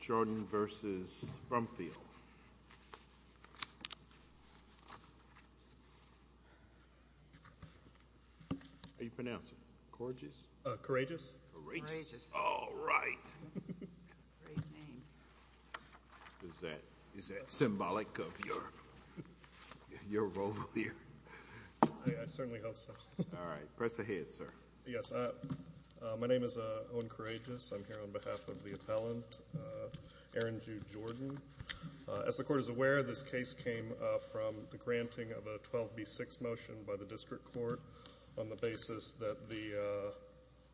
Jordan v. Brumfield. How do you pronounce it? Courageous? Courageous. All right. Is that symbolic of your role here? I certainly hope so. All right, press ahead sir. Yes, my name is Owen of the appellant, Aaron Jude Jordan. As the Court is aware, this case came from the granting of a 12b6 motion by the district court on the basis that the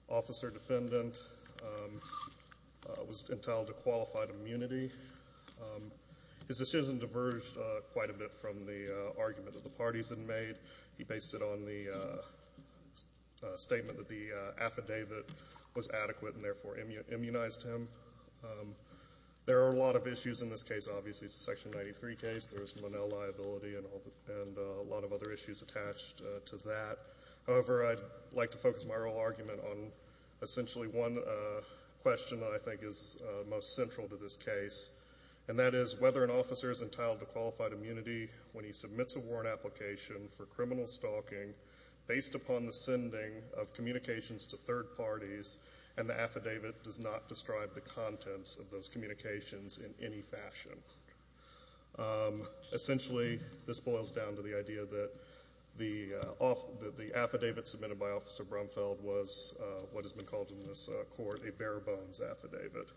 officer-defendant was entitled to qualified immunity. His decision diverged quite a bit from the argument that the parties had made. He based it on the statement that the affidavit was adequate and therefore immunized him. There are a lot of issues in this case. Obviously, it's a Section 93 case. There is Linnell liability and a lot of other issues attached to that. However, I'd like to focus my real argument on essentially one question that I think is most central to this case, and that is whether an officer is entitled to qualified immunity when he submits a warrant application for criminal stalking based upon the sending of communications to third parties and the affidavit does not describe the contents of those communications in any fashion. Essentially, this boils down to the idea that the affidavit submitted by Officer Brumfeld was what has been called in this Court a bare-bones affidavit.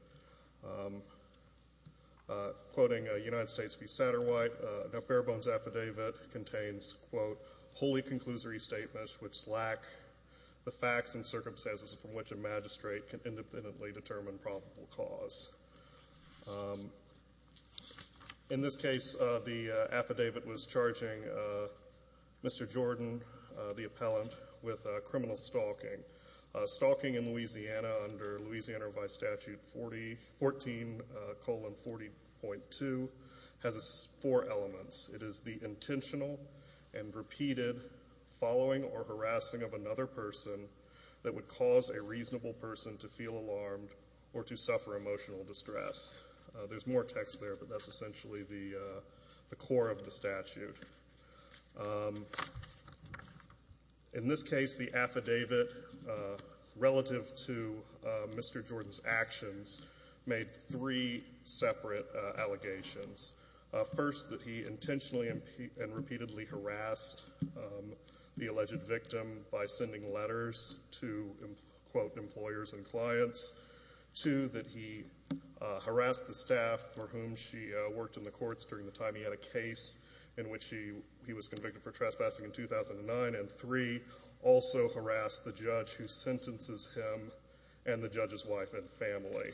Quoting United States v. Satterwhite, a bare-bones affidavit contains, quote, wholly conclusory statements which lack the facts and the magistrate can independently determine probable cause. In this case, the affidavit was charging Mr. Jordan, the appellant, with criminal stalking. Stalking in Louisiana under Louisiana Revised Statute 14, colon 40.2, has four elements. It is the intentional and reasonable person to feel alarmed or to suffer emotional distress. There's more text there, but that's essentially the core of the statute. In this case, the affidavit relative to Mr. Jordan's actions made three separate allegations. First, that he intentionally and repeatedly harassed the alleged victim by sending letters to, quote, employers and clients. Two, that he harassed the staff for whom she worked in the courts during the time he had a case in which he was convicted for trespassing in 2009. And three, also harassed the judge who sentences him and the judge's wife and family.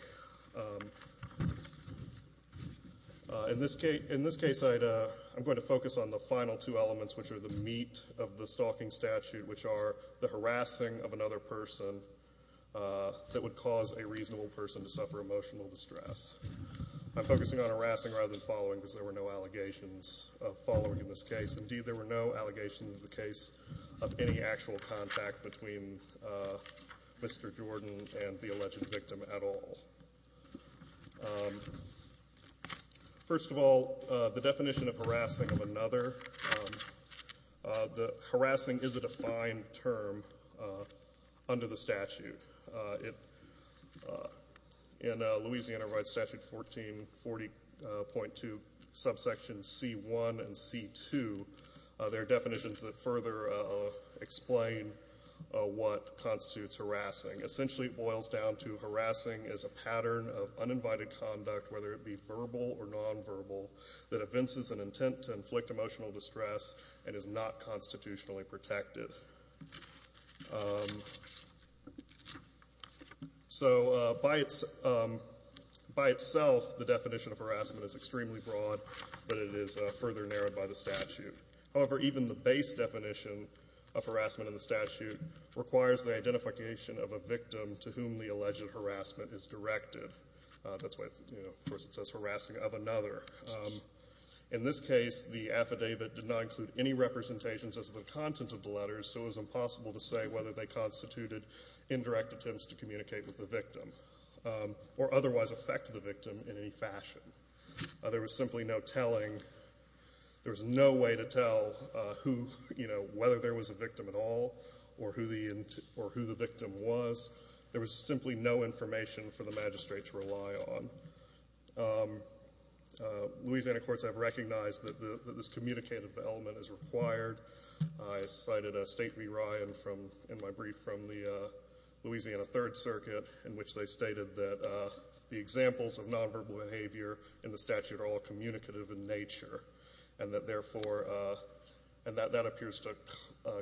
In this case, I'm going to focus on the final two elements, which are the meat of the stalking statute, which are the harassing of another person that would cause a reasonable person to suffer emotional distress. I'm focusing on harassing rather than following because there were no allegations of following in this case. Indeed, there were no sexual contact between Mr. Jordan and the alleged victim at all. First of all, the definition of harassing of another. Harassing is a defined term under the statute. In Louisiana Rights Statute 1440.2 subsection C1 and C2, there are definitions that further explain what constitutes harassing. Essentially, it boils down to harassing as a pattern of uninvited conduct, whether it be verbal or nonverbal, that evinces an intent to inflict emotional distress and is not constitutionally protected. So by itself, the definition of harassment is extremely broad, but it is further narrowed by the statute. However, even the base definition of harassment in the statute requires the identification of a victim to whom the alleged harassment is directed. That's why, of course, it says harassing of another. In this case, the affidavit did not include any representations as the content of the letters, so it was impossible to say whether they constituted indirect attempts to communicate with the victim or otherwise affect the victim in any fashion. There was simply no telling. There was no way to tell whether there was a victim at all or who the victim was. There was simply no information for the magistrate to rely on. Louisiana courts have recognized that this communicative element is required. I cited a State v. Ryan in my brief from the Louisiana Third Circuit in which they stated that the examples of nonverbal behavior in the statute are all communicative in nature and that, therefore, and that appears to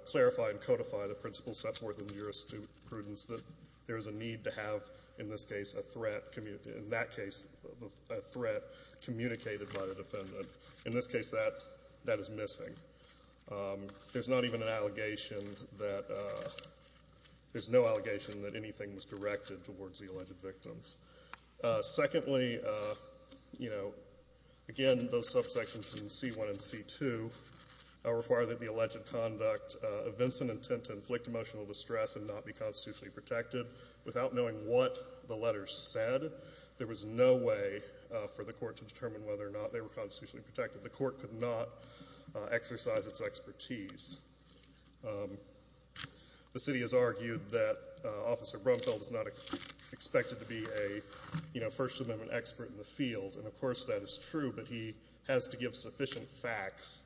clarify and codify the principles set forth in the statute, in that case, a threat communicated by the defendant. In this case, that is missing. There's not even an allegation that — there's no allegation that anything was directed towards the alleged victims. Secondly, you know, again, those subsections in C-1 and C-2 require that the alleged conduct evince an intent to inflict emotional distress and not be constitutionally protected without knowing what the letters said. There was no way for the court to determine whether or not they were constitutionally protected. The court could not exercise its expertise. The City has argued that Officer Brumfield is not expected to be a, you know, First Amendment expert in the field, and of course that is true, but he has to give sufficient facts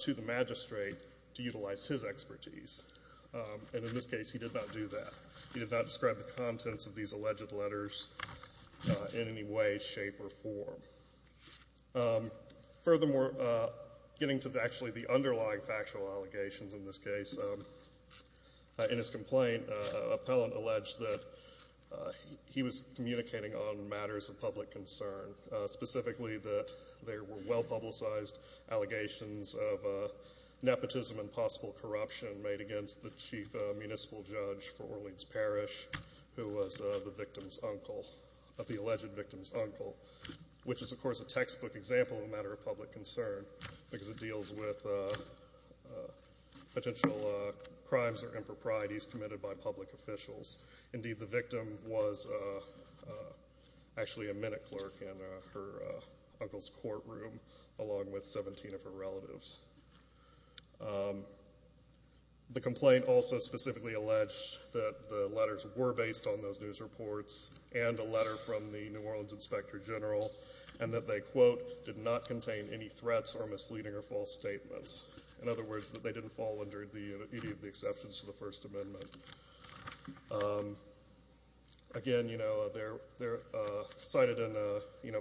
to the magistrate to utilize his expertise. And in this case, he did not do that. He did not describe the contents of these alleged letters in any way, shape, or form. Furthermore, getting to actually the underlying factual allegations in this case, in his complaint, an appellant alleged that he was communicating on matters of public concern, specifically that there were well-publicized allegations of nepotism and possible corruption made against the chief municipal judge for Orleans Parish, who was the victim's uncle, the alleged victim's uncle, which is, of course, a textbook example of a matter of public concern because it deals with potential crimes or improprieties committed by public officials. Indeed, the victim was actually a minute clerk in her uncle's courtroom along with 17 of her relatives. The complaint also specifically alleged that the letters were based on those news reports and a letter from the New Orleans Inspector General, and that they, quote, did not contain any threats or misleading or false statements. In other words, that they didn't fall under any of the exceptions to the First Amendment. Again, you know, they're cited in a, you know,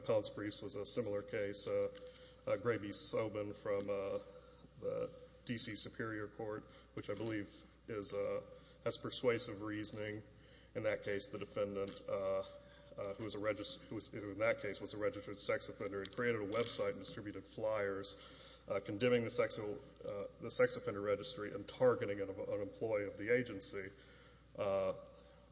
the D.C. Superior Court, which I believe is, has persuasive reasoning. In that case, the defendant, who was a registered, who in that case was a registered sex offender, had created a website and distributed flyers condemning the sexual, the sex offender registry and targeting an employee of the agency.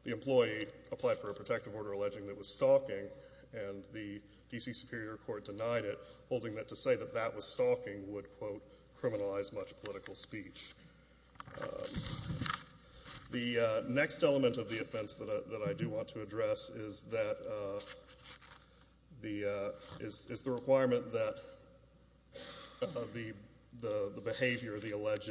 The employee applied for a protective order alleging that it was stalking, and the D.C. Superior Court denied it, holding that to say that that was not the case. So, criminalized much political speech. The next element of the offense that I do want to address is that the, is the requirement that the behavior, the alleged,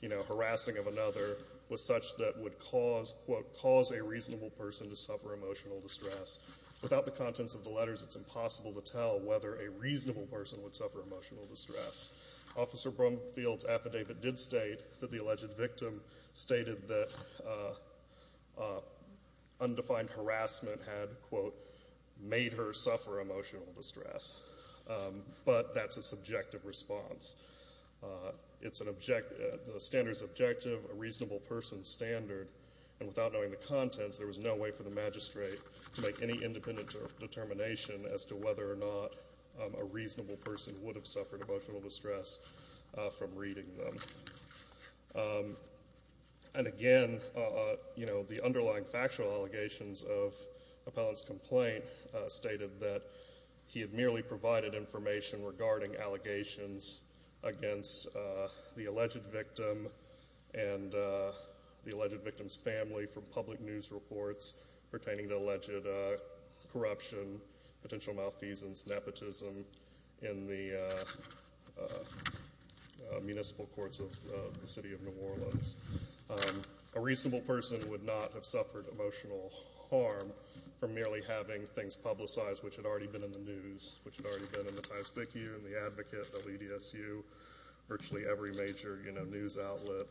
you know, harassing of another was such that would cause, quote, cause a reasonable person to suffer emotional distress. Without the contents of the letters, it's impossible to tell whether a reasonable person would suffer emotional distress. Officer Brumfield's affidavit did state that the alleged victim stated that undefined harassment had, quote, made her suffer emotional distress. But that's a subjective response. It's an, the standard's objective, a reasonable person's standard, and without knowing the contents, there was no way for a reasonable person would have suffered emotional distress from reading them. And again, you know, the underlying factual allegations of Appellant's complaint stated that he had merely provided information regarding allegations against the alleged victim and the alleged victim's family from public news reports pertaining to alleged corruption, potential malfeasance, nepotism in the municipal courts of the City of New Orleans. A reasonable person would not have suffered emotional harm from merely having things publicized which had already been in the news, which had already been in the Times-Vicu, in the Advocate, WDSU, virtually every major, you know, news outlet,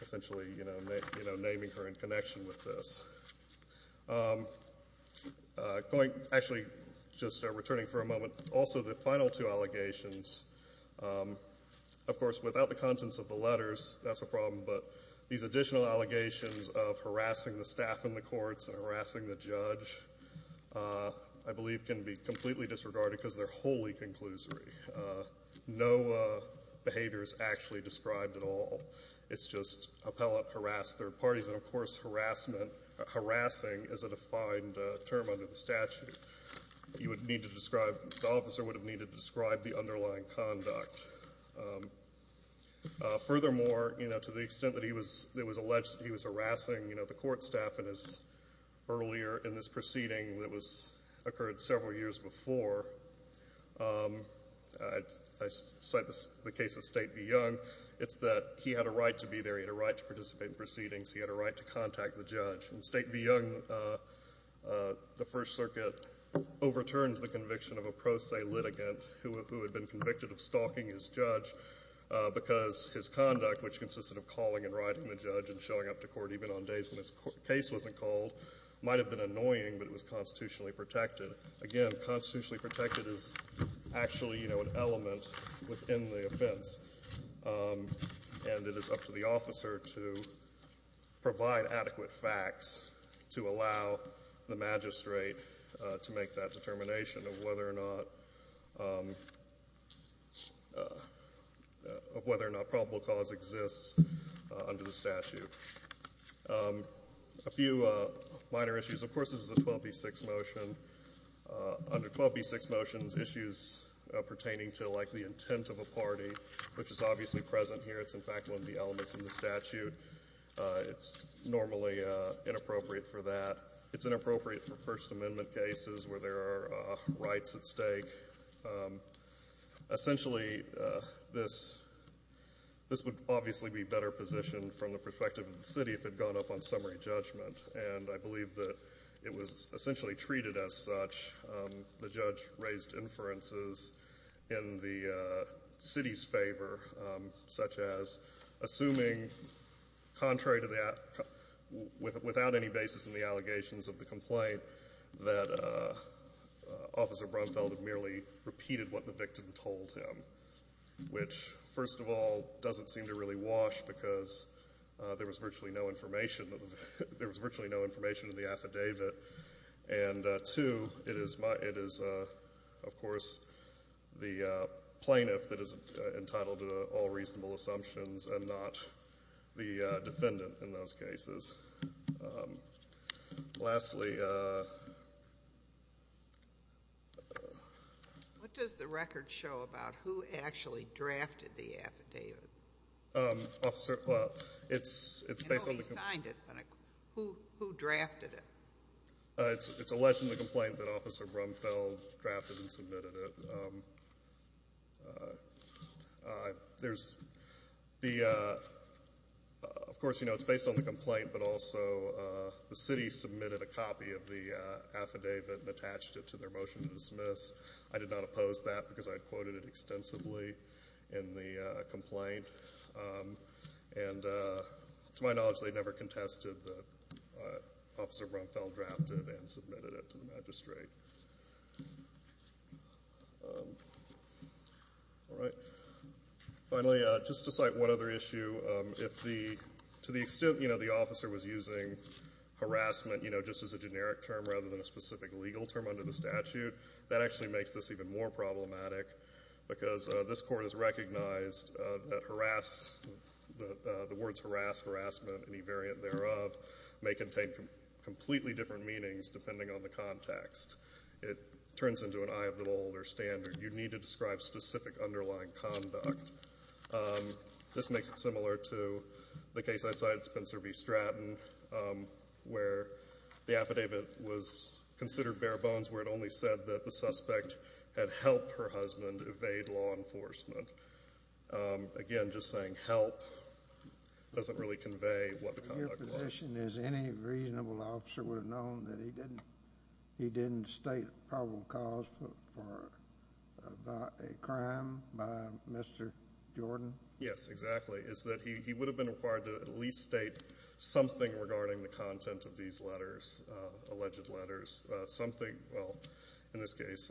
essentially, you know, naming her in connection with this. Actually, just returning for a moment, also the final two allegations, of course, without the contents of the letters, that's a problem, but these additional allegations of harassing the staff in the courts and harassing the judge, I believe, can be completely disregarded because they're wholly conclusory. No behavior is actually described at all. It's just Appellant harassed third parties. And, of course, harassment, harassing is a defined term under the statute. You would need to describe, the officer would have needed to describe the underlying conduct. Furthermore, you know, to the extent that he was alleged, he was harassing, you know, the court staff in his, earlier in this proceeding that was, occurred several years before, I cite the case of State v. Young, it's that he had a right to be there. He had a right to participate in proceedings. He had a right to contact the judge. In State v. Young, the First Circuit overturned the conviction of a pro se litigant who had been convicted of stalking his judge because his conduct, which consisted of calling and writing the judge and showing up to court even on days when his case wasn't called, might have been annoying, but it was constitutionally protected. Again, constitutionally protected is actually, you know, an element within the offense. And it is up to the officer to provide adequate facts to allow the magistrate to make that determination of whether or not probable cause exists under the statute. A few minor issues. Of course, this is a 12b6 motion. Under 12b6 motions, issues pertaining to, like, the intent of a party, which is obviously present here. It's, in fact, one of the elements in the statute. It's normally inappropriate for that. It's inappropriate for First Amendment cases where there are rights at stake. Essentially, this would obviously be better positioned from the perspective of the city if it had gone up on summary judgment. And I believe that it was essentially treated as such. The judge raised inferences in the city's favor, such as assuming, contrary to that, without any basis in the allegations of the complaint, that Officer Brumfeld had merely repeated what the victim told him, which, first of all, doesn't seem to really wash because there was virtually no information in the affidavit. And, two, it is, of course, the plaintiff that is entitled to all reasonable assumptions and not the defendant in those cases. Lastly... What does the record show about who actually drafted the affidavit? Officer, well, it's based on the complaint... I know he signed it, but who drafted it? It's alleged in the complaint that Officer Brumfeld drafted and submitted it. There's the, of course, you know, it's based on the complaint, but also the city submitted a copy of the affidavit and attached it to their motion to dismiss. I did not oppose that because I quoted it extensively in the complaint. And, to my knowledge, they never contested that Officer Brumfeld drafted and submitted it to the magistrate. All right. Finally, just to cite one other issue, if the, to the extent, you know, the officer was using harassment, you know, just as a generic term rather than a specific legal term under the statute, that actually makes this even more problematic because this Court has recognized that harass, the words harass, harassment, any variant thereof, may contain completely different meanings depending on the context. It turns into an eye of the bull or standard. You need to describe specific underlying conduct. This makes it similar to the case I cited, Spencer v. Stratton, where the affidavit was considered bare bones where it only said that the suspect had helped her husband evade law enforcement. Again, just saying help doesn't really convey what the conduct was. Your position is any reasonable officer would have known that he didn't, he didn't state probable cause for a crime by Mr. Jordan? Yes, exactly, is that he would have been required to at least state something regarding the crime. Something, well, in this case,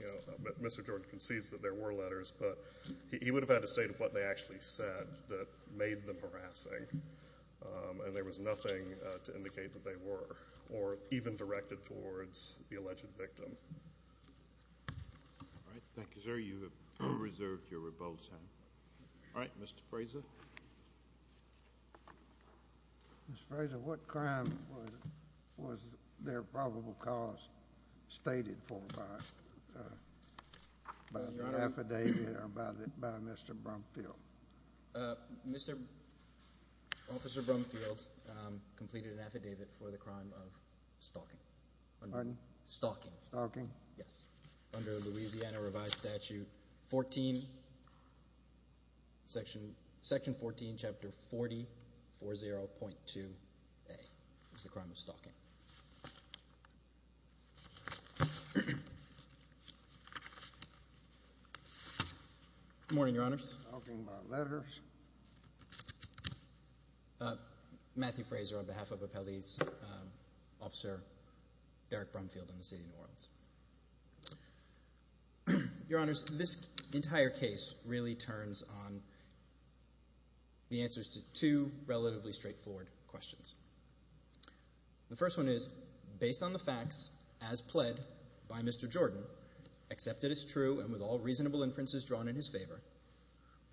you know, Mr. Jordan concedes that there were letters, but he would have had to state what they actually said that made them harassing and there was nothing to indicate that they were or even directed towards the alleged victim. All right, thank you, sir. You have reserved your rebuttal time. All right, Mr. Frazer. Mr. Frazer, what crime was their probable cause stated for by the affidavit or by Mr. Brumfield? Mr. Officer Brumfield completed an affidavit for the crime of stalking. Stalking. Stalking? Yes, under Louisiana Revised Statute 14, Section 14, Chapter 4040.2A was the crime of stalking. Good morning, Your Honors. Talking about letters. Matthew Frazer on behalf of Appellee's Officer Derek Brumfield in the City of New Orleans. Your Honors, this entire case really turns on the answers to two relatively straightforward questions. The first one is, based on the facts as pled by Mr. Jordan, accepted as true and with all reasonable inferences drawn in his favor,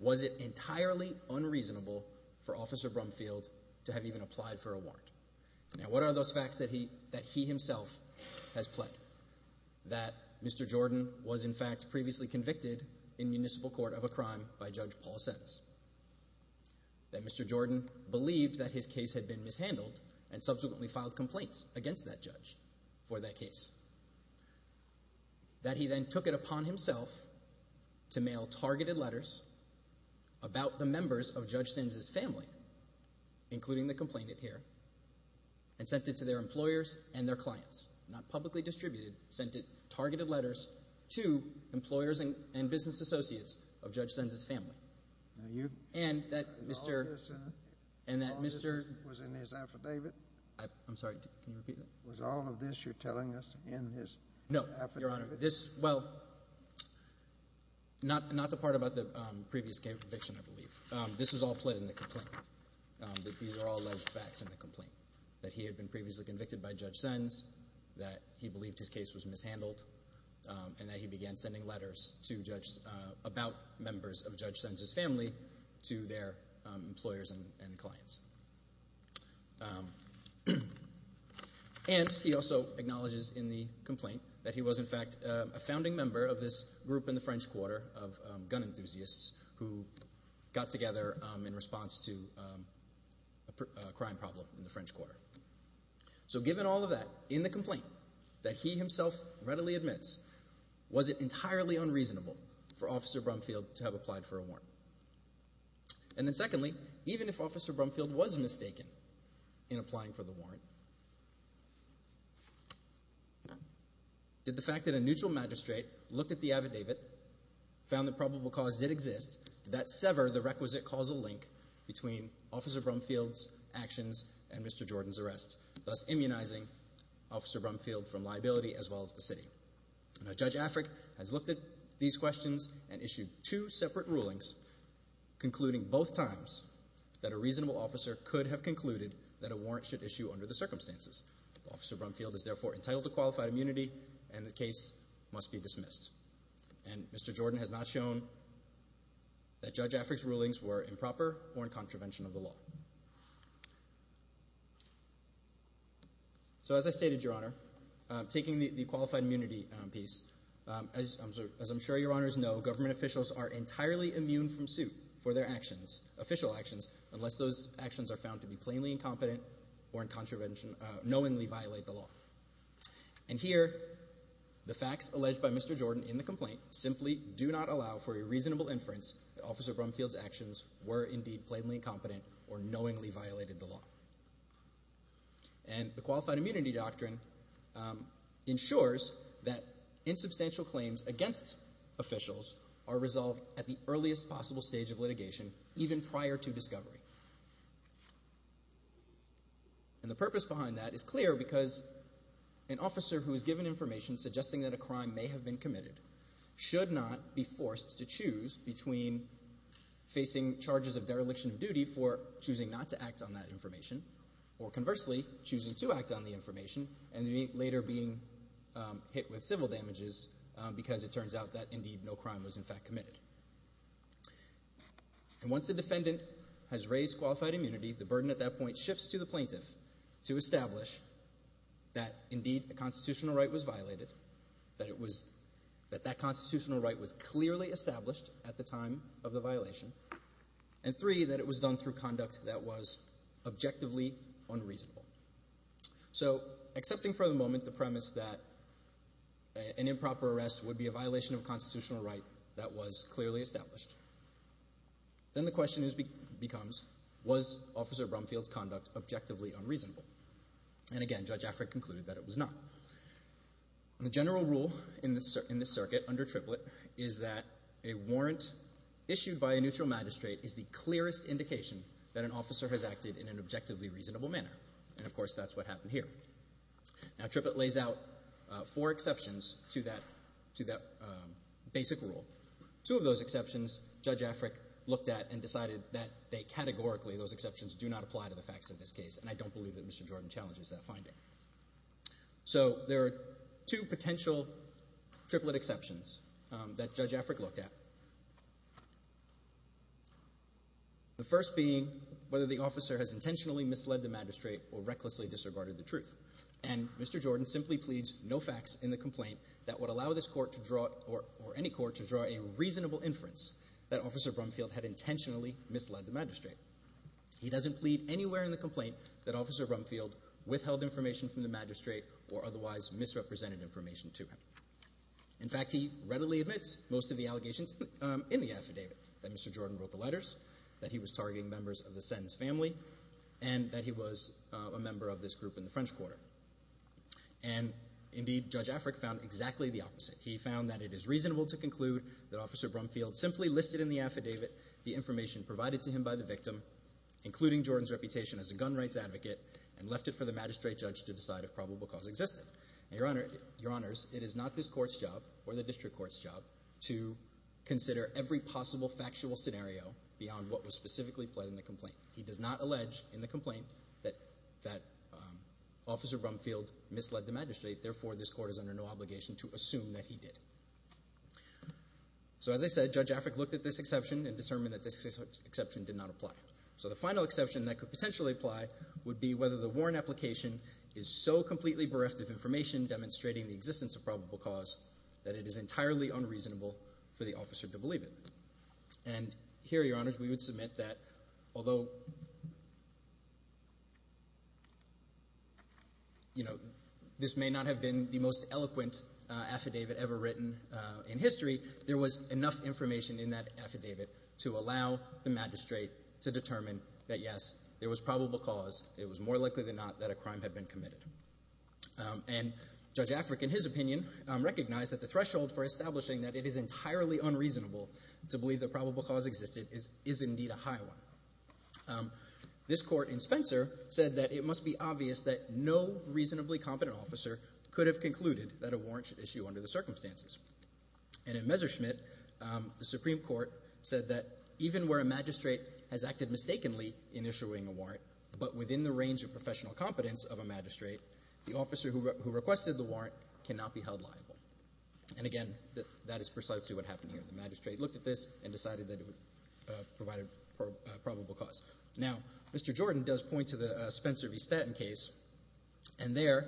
was it entirely unreasonable for Officer Brumfield to have even applied for a warrant? Now, what are those facts that he himself has pled? That Mr. Jordan was in fact previously convicted in municipal court of a crime by Judge Paul Sens, that Mr. Jordan believed that his case had been mishandled and subsequently filed complaints against that judge for that case. That he then took it upon himself to mail targeted letters about the members of Judge Sens' family, including the complainant here, and sent it to their employers and their clients. Not publicly distributed, sent it, targeted letters, to employers and business associates of Judge Sens' family. Now you? And that Mr. The officer was in his affidavit? I'm sorry. Can you repeat that? Was all of this you're telling us in his affidavit? No, Your Honor. This, well, not the part about the previous conviction, I believe. This was all pled in the complaint. These are all alleged facts in the complaint. That he had been previously convicted by Judge Sens, that he believed his case was mishandled, and that he began sending letters about members of Judge Sens' family to their employers and clients. And he also acknowledges in the complaint that he was in fact a founding member of this group in the French Quarter of gun enthusiasts who got together in response to a crime problem in the French Quarter. So given all of that, in the complaint, that he himself readily admits, was it entirely unreasonable for Officer Brumfield to have applied for a warrant? And then secondly, even if Officer Brumfield was mistaken in applying for the warrant, did the fact that a neutral magistrate looked at the affidavit, found that probable cause did exist, did that sever the requisite causal link between Officer Brumfield's actions and Mr. Jordan's arrest, thus immunizing Officer Brumfield from liability as well as the city? Now Judge Afric has looked at these questions and issued two separate rulings, concluding both times that a reasonable officer could have concluded that a warrant should issue under the circumstances. Officer Brumfield is therefore entitled to qualified immunity and the case must be dismissed. And Mr. Jordan has not shown that Judge Afric's rulings were improper or in contravention of the law. So as I stated, Your Honor, taking the qualified immunity piece, as I'm sure your honors know, government officials are entirely immune from suit for their actions, official actions, unless those actions are found to be plainly incompetent or in contravention, knowingly violate the law. And here, the facts alleged by Mr. Jordan in the complaint simply do not allow for a reasonable inference that Officer Brumfield's actions were indeed plainly incompetent or knowingly violated the law. And the qualified immunity doctrine ensures that insubstantial claims against officials are resolved at the earliest possible stage of litigation, even prior to discovery. And the purpose behind that is clear because an officer who is given information suggesting that a crime may have been committed should not be forced to choose between facing charges of dereliction of duty for choosing not to act on that information, or conversely, choosing to act on the information and then later being hit with civil damages because it turns out that indeed no crime was in fact committed. And once a defendant has raised qualified immunity, the burden at that point shifts to the plaintiff to establish that indeed a constitutional right was clearly established at the time of the violation, and three, that it was done through conduct that was objectively unreasonable. So, accepting for the moment the premise that an improper arrest would be a violation of a constitutional right that was clearly established, then the question becomes, was Officer Brumfield's conduct objectively unreasonable? And again, Judge Afric concluded that it was not. The general rule in this circuit under Triplett is that a warrant issued by a neutral magistrate is the clearest indication that an officer has acted in an objectively reasonable manner, and of course that's what happened here. Now, Triplett lays out four exceptions to that basic rule. Two of those exceptions, Judge Afric looked at and decided that they categorically, those exceptions do not apply to the facts of this case, and I don't believe that Mr. Jordan challenges that finding. So, there are two potential Triplett exceptions that Judge Afric looked at. The first being whether the officer has intentionally misled the magistrate or recklessly disregarded the truth, and Mr. Jordan simply pleads no facts in the complaint that would allow this court to draw, or any court to draw, a reasonable inference that Officer Brumfield had intentionally misled the magistrate. He doesn't plead anywhere in the complaint that Officer Brumfield withheld information from the magistrate or otherwise misrepresented information to him. In fact, he readily admits most of the allegations in the affidavit, that Mr. Jordan wrote the letters, that he was targeting members of the Sens family, and that he was a member of this group in the French Quarter. And indeed, Judge Afric found exactly the opposite. He found that it is reasonable to conclude that Officer Brumfield simply listed in the affidavit the information provided to him by the victim, including Jordan's reputation as a gun rights advocate, and left it for the magistrate judge to decide if probable cause existed. Your Honors, it is not this court's job, or the district court's job, to consider every possible factual scenario beyond what was specifically pled in the complaint. He does not allege in the complaint that Officer Brumfield misled the magistrate. Therefore, this court is under no obligation to assume that he did. So, as I said, Judge Afric looked at this exception and determined that this exception that could potentially apply would be whether the warrant application is so completely bereft of information demonstrating the existence of probable cause that it is entirely unreasonable for the officer to believe it. And here, Your Honors, we would submit that although you know, this may not have been the most eloquent affidavit ever written in history, there was enough information in that affidavit to allow the magistrate to determine that yes, there was probable cause. It was more likely than not that a crime had been committed. And Judge Afric, in his opinion, recognized that the threshold for establishing that it is entirely unreasonable to believe that probable cause existed is indeed a high one. This court, in Spencer, said that it must be obvious that no reasonably competent officer could have concluded that a warrant should issue under the circumstances. And in Messerschmidt, the Supreme Court said that even where a magistrate has acted mistakenly in issuing a warrant, but within the range of professional competence of a magistrate, the officer who requested the warrant cannot be held liable. And again, that is precisely what happened here. The magistrate looked at this and decided that it would provide a probable cause. Now, Mr. Jordan does point to the Spencer v. Staten case, and there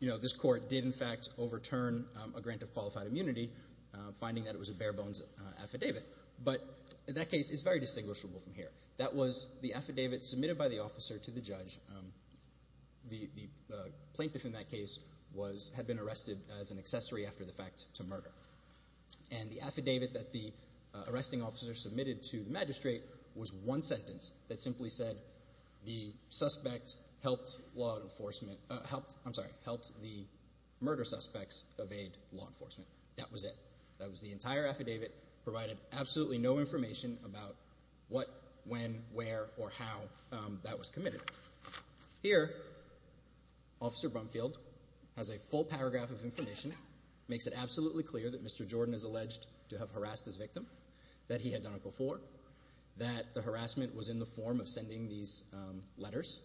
you know, this court did in fact overturn a grant of qualified immunity, finding that it was a bare-bones affidavit. But that case is very distinguishable from here. That was the affidavit submitted by the officer to the judge. The plaintiff in that case had been arrested as an accessory after the fact to murder. And the affidavit that the arresting officer submitted to the magistrate was one sentence that simply said the suspect helped the murder suspects evade law enforcement. That was it. That was the entire affidavit, provided absolutely no information about what, when, where, or how that was committed. Here, Officer Brumfield has a full paragraph of information, makes it absolutely clear that Mr. Jordan is alleged to have harassed his victim, that he had done it before, that the harassment was in the form of sending these letters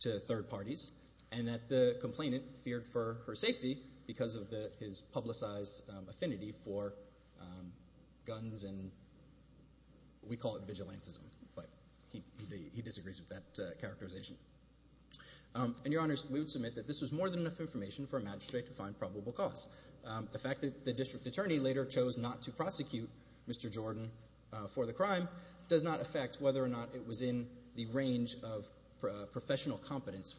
to third parties, and that the complainant feared for her safety because of his publicized affinity for guns and we call it vigilantism, but he disagrees with that characterization. And Your Honors, we would submit that this was more than enough information for a magistrate to find probable cause. The fact that the district attorney later chose not to prosecute Mr. Jordan for the crime does not affect whether or not it was in the range of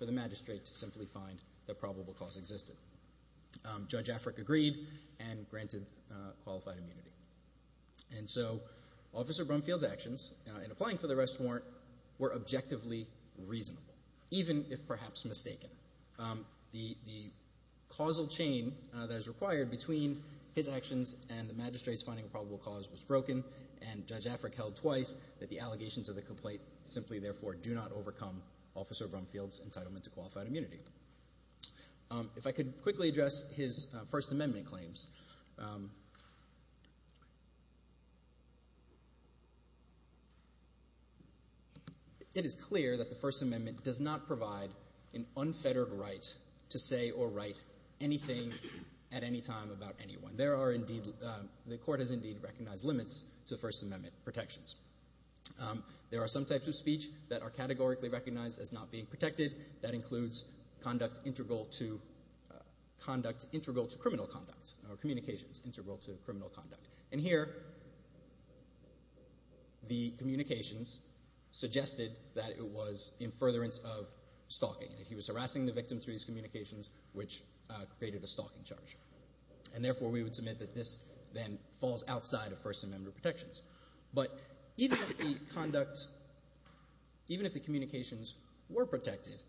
a magistrate to simply find that probable cause existed. Judge Afric agreed and granted qualified immunity. And so, Officer Brumfield's actions in applying for the arrest warrant were objectively reasonable, even if perhaps mistaken. The causal chain that is required between his actions and the magistrate's finding of probable cause was broken and Judge Afric held twice that the allegations of the complaint simply therefore do not overcome Officer Brumfield's entitlement to qualified immunity. If I could quickly address his First Amendment claims. It is clear that the First Amendment does not provide an unfettered right to say or write anything at any time about anyone. There are indeed, the Court has indeed recognized limits to First Amendment protections. There are some types of speech that are categorically recognized as not being protected. That includes conduct integral to criminal conduct or communications integral to criminal conduct. And here, the communications suggested that it was in furtherance of stalking. That he was harassing the victim through these communications, which created a stalking charge. And therefore, we would submit that this then falls outside of First Amendment protections. But even if the conduct, even if the communications were protected,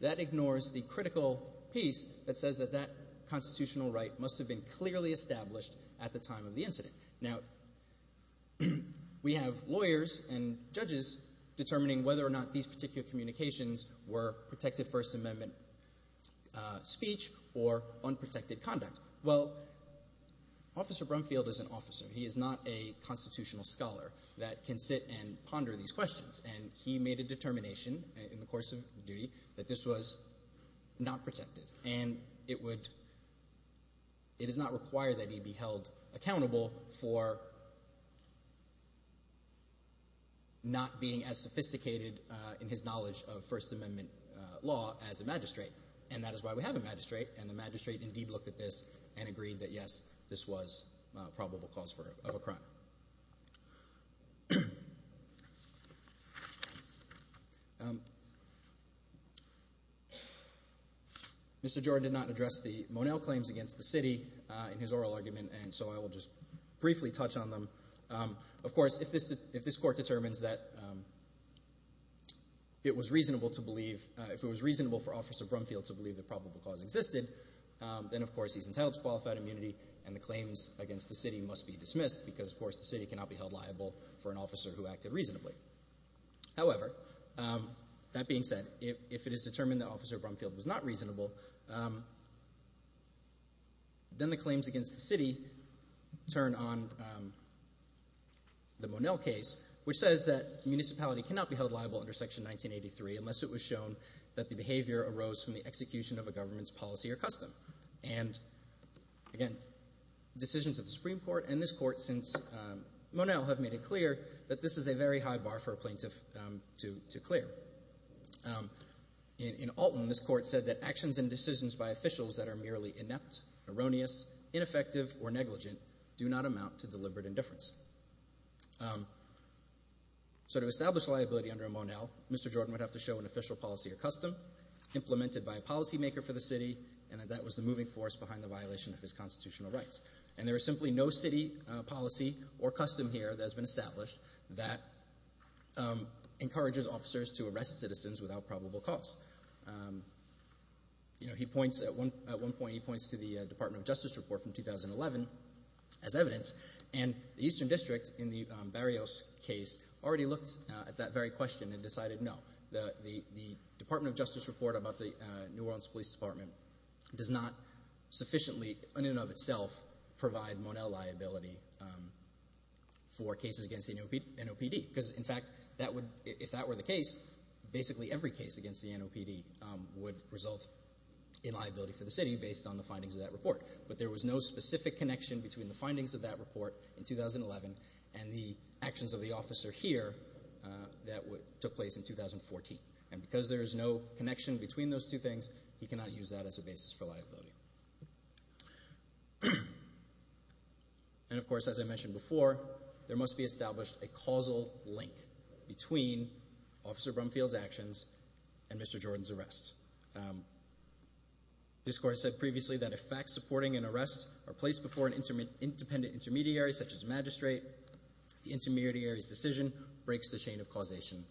that ignores the critical piece that says that that constitutional right must have been clearly established at the time of the incident. Now, we have lawyers and judges determining whether or not these particular communications were protected First Amendment speech or unprotected conduct. Well, Officer Brumfield is an officer. He is not a constitutional scholar that can sit and ponder these questions. And he made a determination in the course of duty that this was not protected. And it would it does not require that he be held accountable for not being as sophisticated in his knowledge of First Amendment law as a magistrate. And that is why we have a magistrate. And the magistrate indeed looked at this and agreed that yes, this was probable cause of a crime. Mr. Jordan did not address the Monell claims against the city in his oral argument and so I will just briefly touch on them. Of course, if this court determines that it was reasonable to believe, if it was reasonable for Officer Brumfield to believe that probable cause existed then, of course, he's entitled to qualified immunity and the claims against the city must be dismissed because, of course, the city cannot be held liable for an officer who acted reasonably. However, that being said, if it is determined that Officer Brumfield was not reasonable then the claims against the city turn on the Monell case, which says that municipality cannot be held liable under Section 1983 unless it was shown that the behavior arose from the execution of a government's policy or custom. Again, decisions of the Supreme Court and this court since Monell have made it clear that this is a very high bar for a plaintiff to clear. In Alton, this court said that actions and decisions by officials that are merely inept, erroneous, ineffective, or negligent do not amount to deliberate indifference. So to establish liability under a Monell, Mr. Jordan would have to show an official policy or custom implemented by a policy maker for the city and that that was the moving force behind the violation of his constitutional rights. And there is simply no city policy or custom here that has been established that encourages officers to arrest citizens without probable cause. You know, he points, at one point he points to the Department of Justice report from 2011 as evidence and the Eastern District in the Barrios case already looked at that very question and decided no. The Department of Justice report about the New Orleans Police Department does not sufficiently in and of itself provide Monell liability for cases against the NOPD. Because in fact, if that were the case basically every case against the NOPD would result in liability for the city based on the findings of that report. But there was no specific connection between the findings of that report in 2011 and the actions of the officer here that took place in 2014. And because there is no connection between those two things, he cannot use that as a basis for liability. And of course as I mentioned before, there must be established a causal link between Officer Brumfield's actions and Mr. Jordan's arrest. This court said previously that if facts supporting an arrest are placed before an independent intermediary such as a magistrate, the intermediary's decision breaks the chain of causation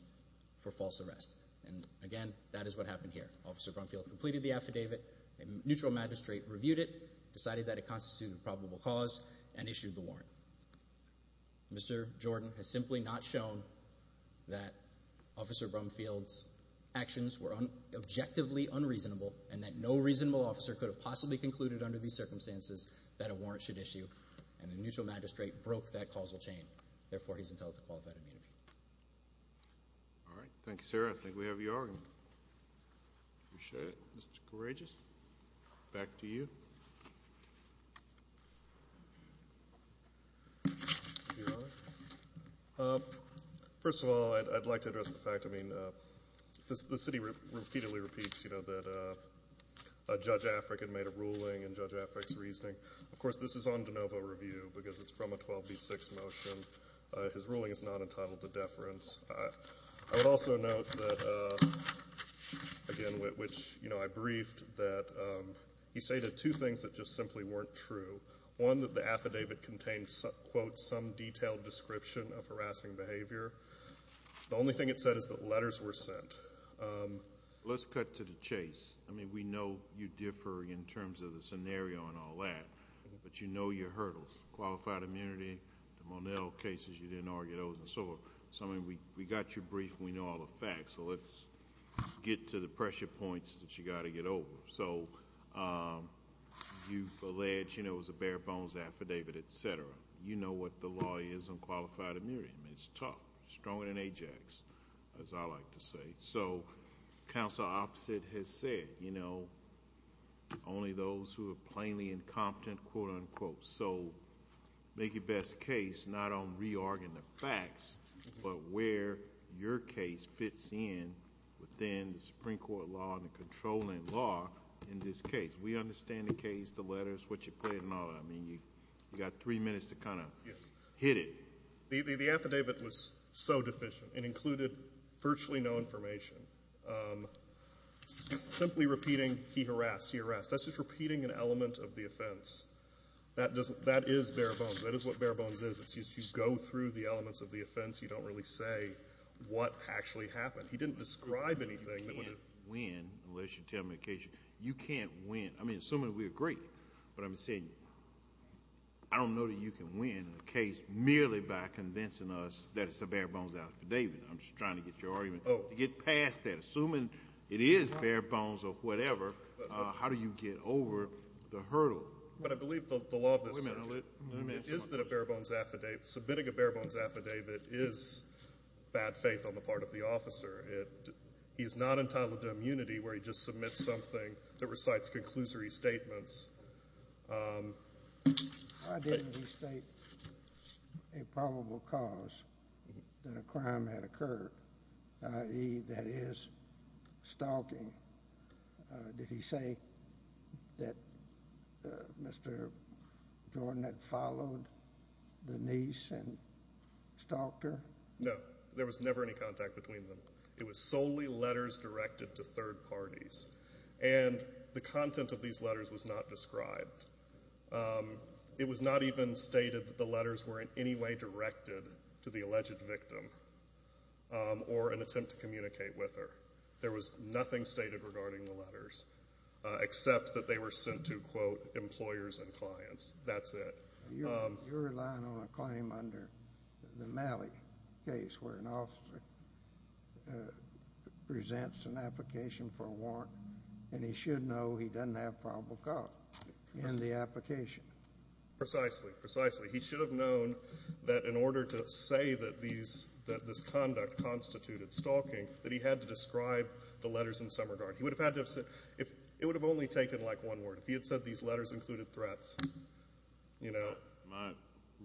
for false arrest. And again, that is what happened here. Officer Brumfield completed the affidavit, a neutral magistrate reviewed it, decided that it constituted probable cause, and issued the warrant. Mr. Jordan has simply not shown that Officer Brumfield's actions were objectively unreasonable and that no reasonable officer could have possibly concluded under these circumstances that a warrant should issue and a neutral magistrate broke that causal chain. Therefore, he's entitled to qualified immunity. All right. Thank you, sir. I think we have your argument. Appreciate it. Mr. Courageous, back to you. Your Honor. First of all I'd like to address the fact, I mean, the city repeatedly repeats that Judge Afric had made a ruling in Judge Afric's de novo review because it's from a 12B6 motion. His ruling is not entitled to deference. I would also note that again, which, you know, I briefed that he stated two things that just simply weren't true. One, that the affidavit contains quote, some detailed description of harassing behavior. The only thing it said is that letters were sent. Let's cut to the chase. I mean, we know you differ in terms of the scenario and all that, but you know your hurdles. Qualified immunity, the Monell cases, you didn't argue those and so on. So, I mean, we got your brief and we know all the facts. So, let's get to the pressure points that you got to get over. So, you've alleged it was a bare bones affidavit, etc. You know what the law is on qualified immunity. I mean, it's tough. Stronger than Ajax, as I like to say. So, counsel opposite has said, you know, only those who are plainly incompetent, quote, unquote. So, make your best case not on re-arguing the facts but where your case fits in within the Supreme Court law and the controlling law in this case. We understand the case, the letters, what you put in and all that. I mean, you got three minutes to kind of hit it. The affidavit was so deficient. It included virtually no information. Simply repeating, he harassed, he harassed. That's just repeating an element of the offense. That is bare bones. That is what bare bones is. It's just you go through the elements of the offense. You don't really say what actually happened. He didn't describe anything. You can't win, unless you tell me the case. You can't win. I mean, assuming we agree. But I'm saying, I don't know that you can win a case merely by convincing us that it's a bare bones affidavit. I'm just trying to get your argument. To get past that. Assuming it is bare bones or whatever, how do you get over the hurdle? But I believe the law of this statute is that a bare bones affidavit submitting a bare bones affidavit is bad faith on the part of the officer. He's not entitled to immunity where he just submits something that recites conclusory statements. Why didn't he state a probable cause that a crime had occurred, i.e., that is stalking? Did he say that Mr. Jordan had followed the niece and stalked her? No. There was never any contact between them. It was solely letters directed to third parties. And the content of these letters was not described. It was not even stated that the letters were in any way directed to the alleged victim or an attempt to communicate with her. There was nothing stated regarding the letters except that they were sent to, quote, employers and clients. That's it. You're relying on a claim under the Malley case where an officer presents an application for a warrant and he should know he doesn't have probable cause in the application. Precisely. He should have known that in order to say that this conduct constituted stalking, that he had to describe the letters in some regard. It would have only taken like one word. If he had said these letters included threats. My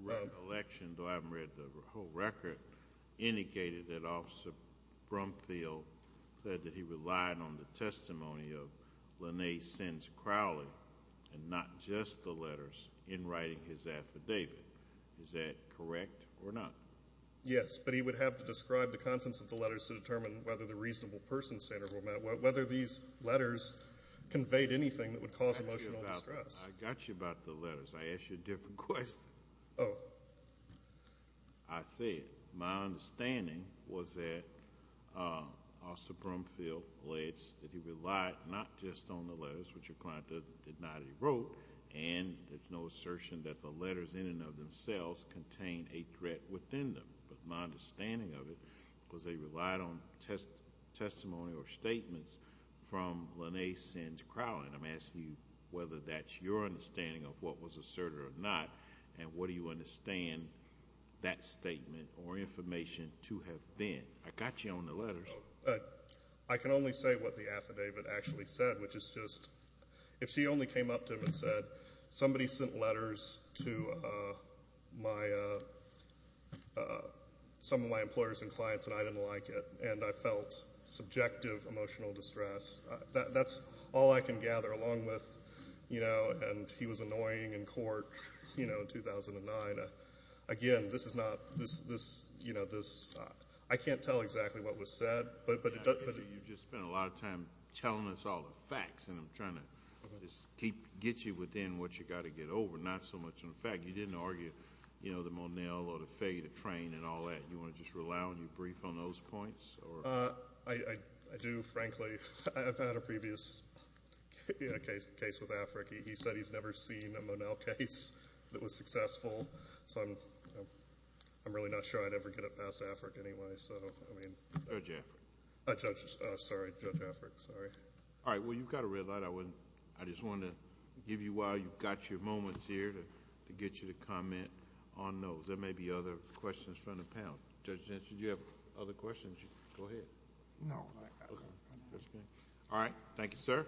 recollection, though I haven't read the whole record, indicated that Officer Brumfield said that he relied on the testimony of Lene Sins Crowley and not just the letters in writing his affidavit. Is that correct or not? Yes, but he would have to describe the contents of the letters to determine whether the reasonable person standard conveyed anything that would cause emotional distress. I got you about the letters. I asked you a different question. I see. My understanding was that Officer Brumfield alleged that he relied not just on the letters, which your client denied he wrote, and there's no assertion that the letters in and of themselves contained a threat within them. But my understanding of it was they relied on testimony or statements from Lene Sins Crowley. I'm asking you whether that's your understanding of what was asserted or not and what do you understand that statement or information to have been. I got you on the letters. I can only say what the affidavit actually said, which is just if she only came up to him and said, somebody sent letters to some of my employers and clients and I didn't like it and I felt subjective emotional distress, that's all I can gather along with and he was annoying in court in 2009. Again, this is not I can't tell exactly what was said You've just spent a lot of time telling us all the facts and I'm trying to get you within what you've got to get over, not so much on the facts. You didn't argue the Monell or the failure to train and all that. Do you want to just rely on your brief on those points? I do, frankly. I've had a previous case with AFRIC. He said he's never seen a Monell case that was successful. I'm really not sure I'd ever get it past AFRIC anyway. Judge AFRIC. You've got a red light. I just wanted to give you while you've got your moments here to get you to comment on those. There may be other questions from the panel. Judge Jensen, do you have other questions? Go ahead. No. Thank you, sir.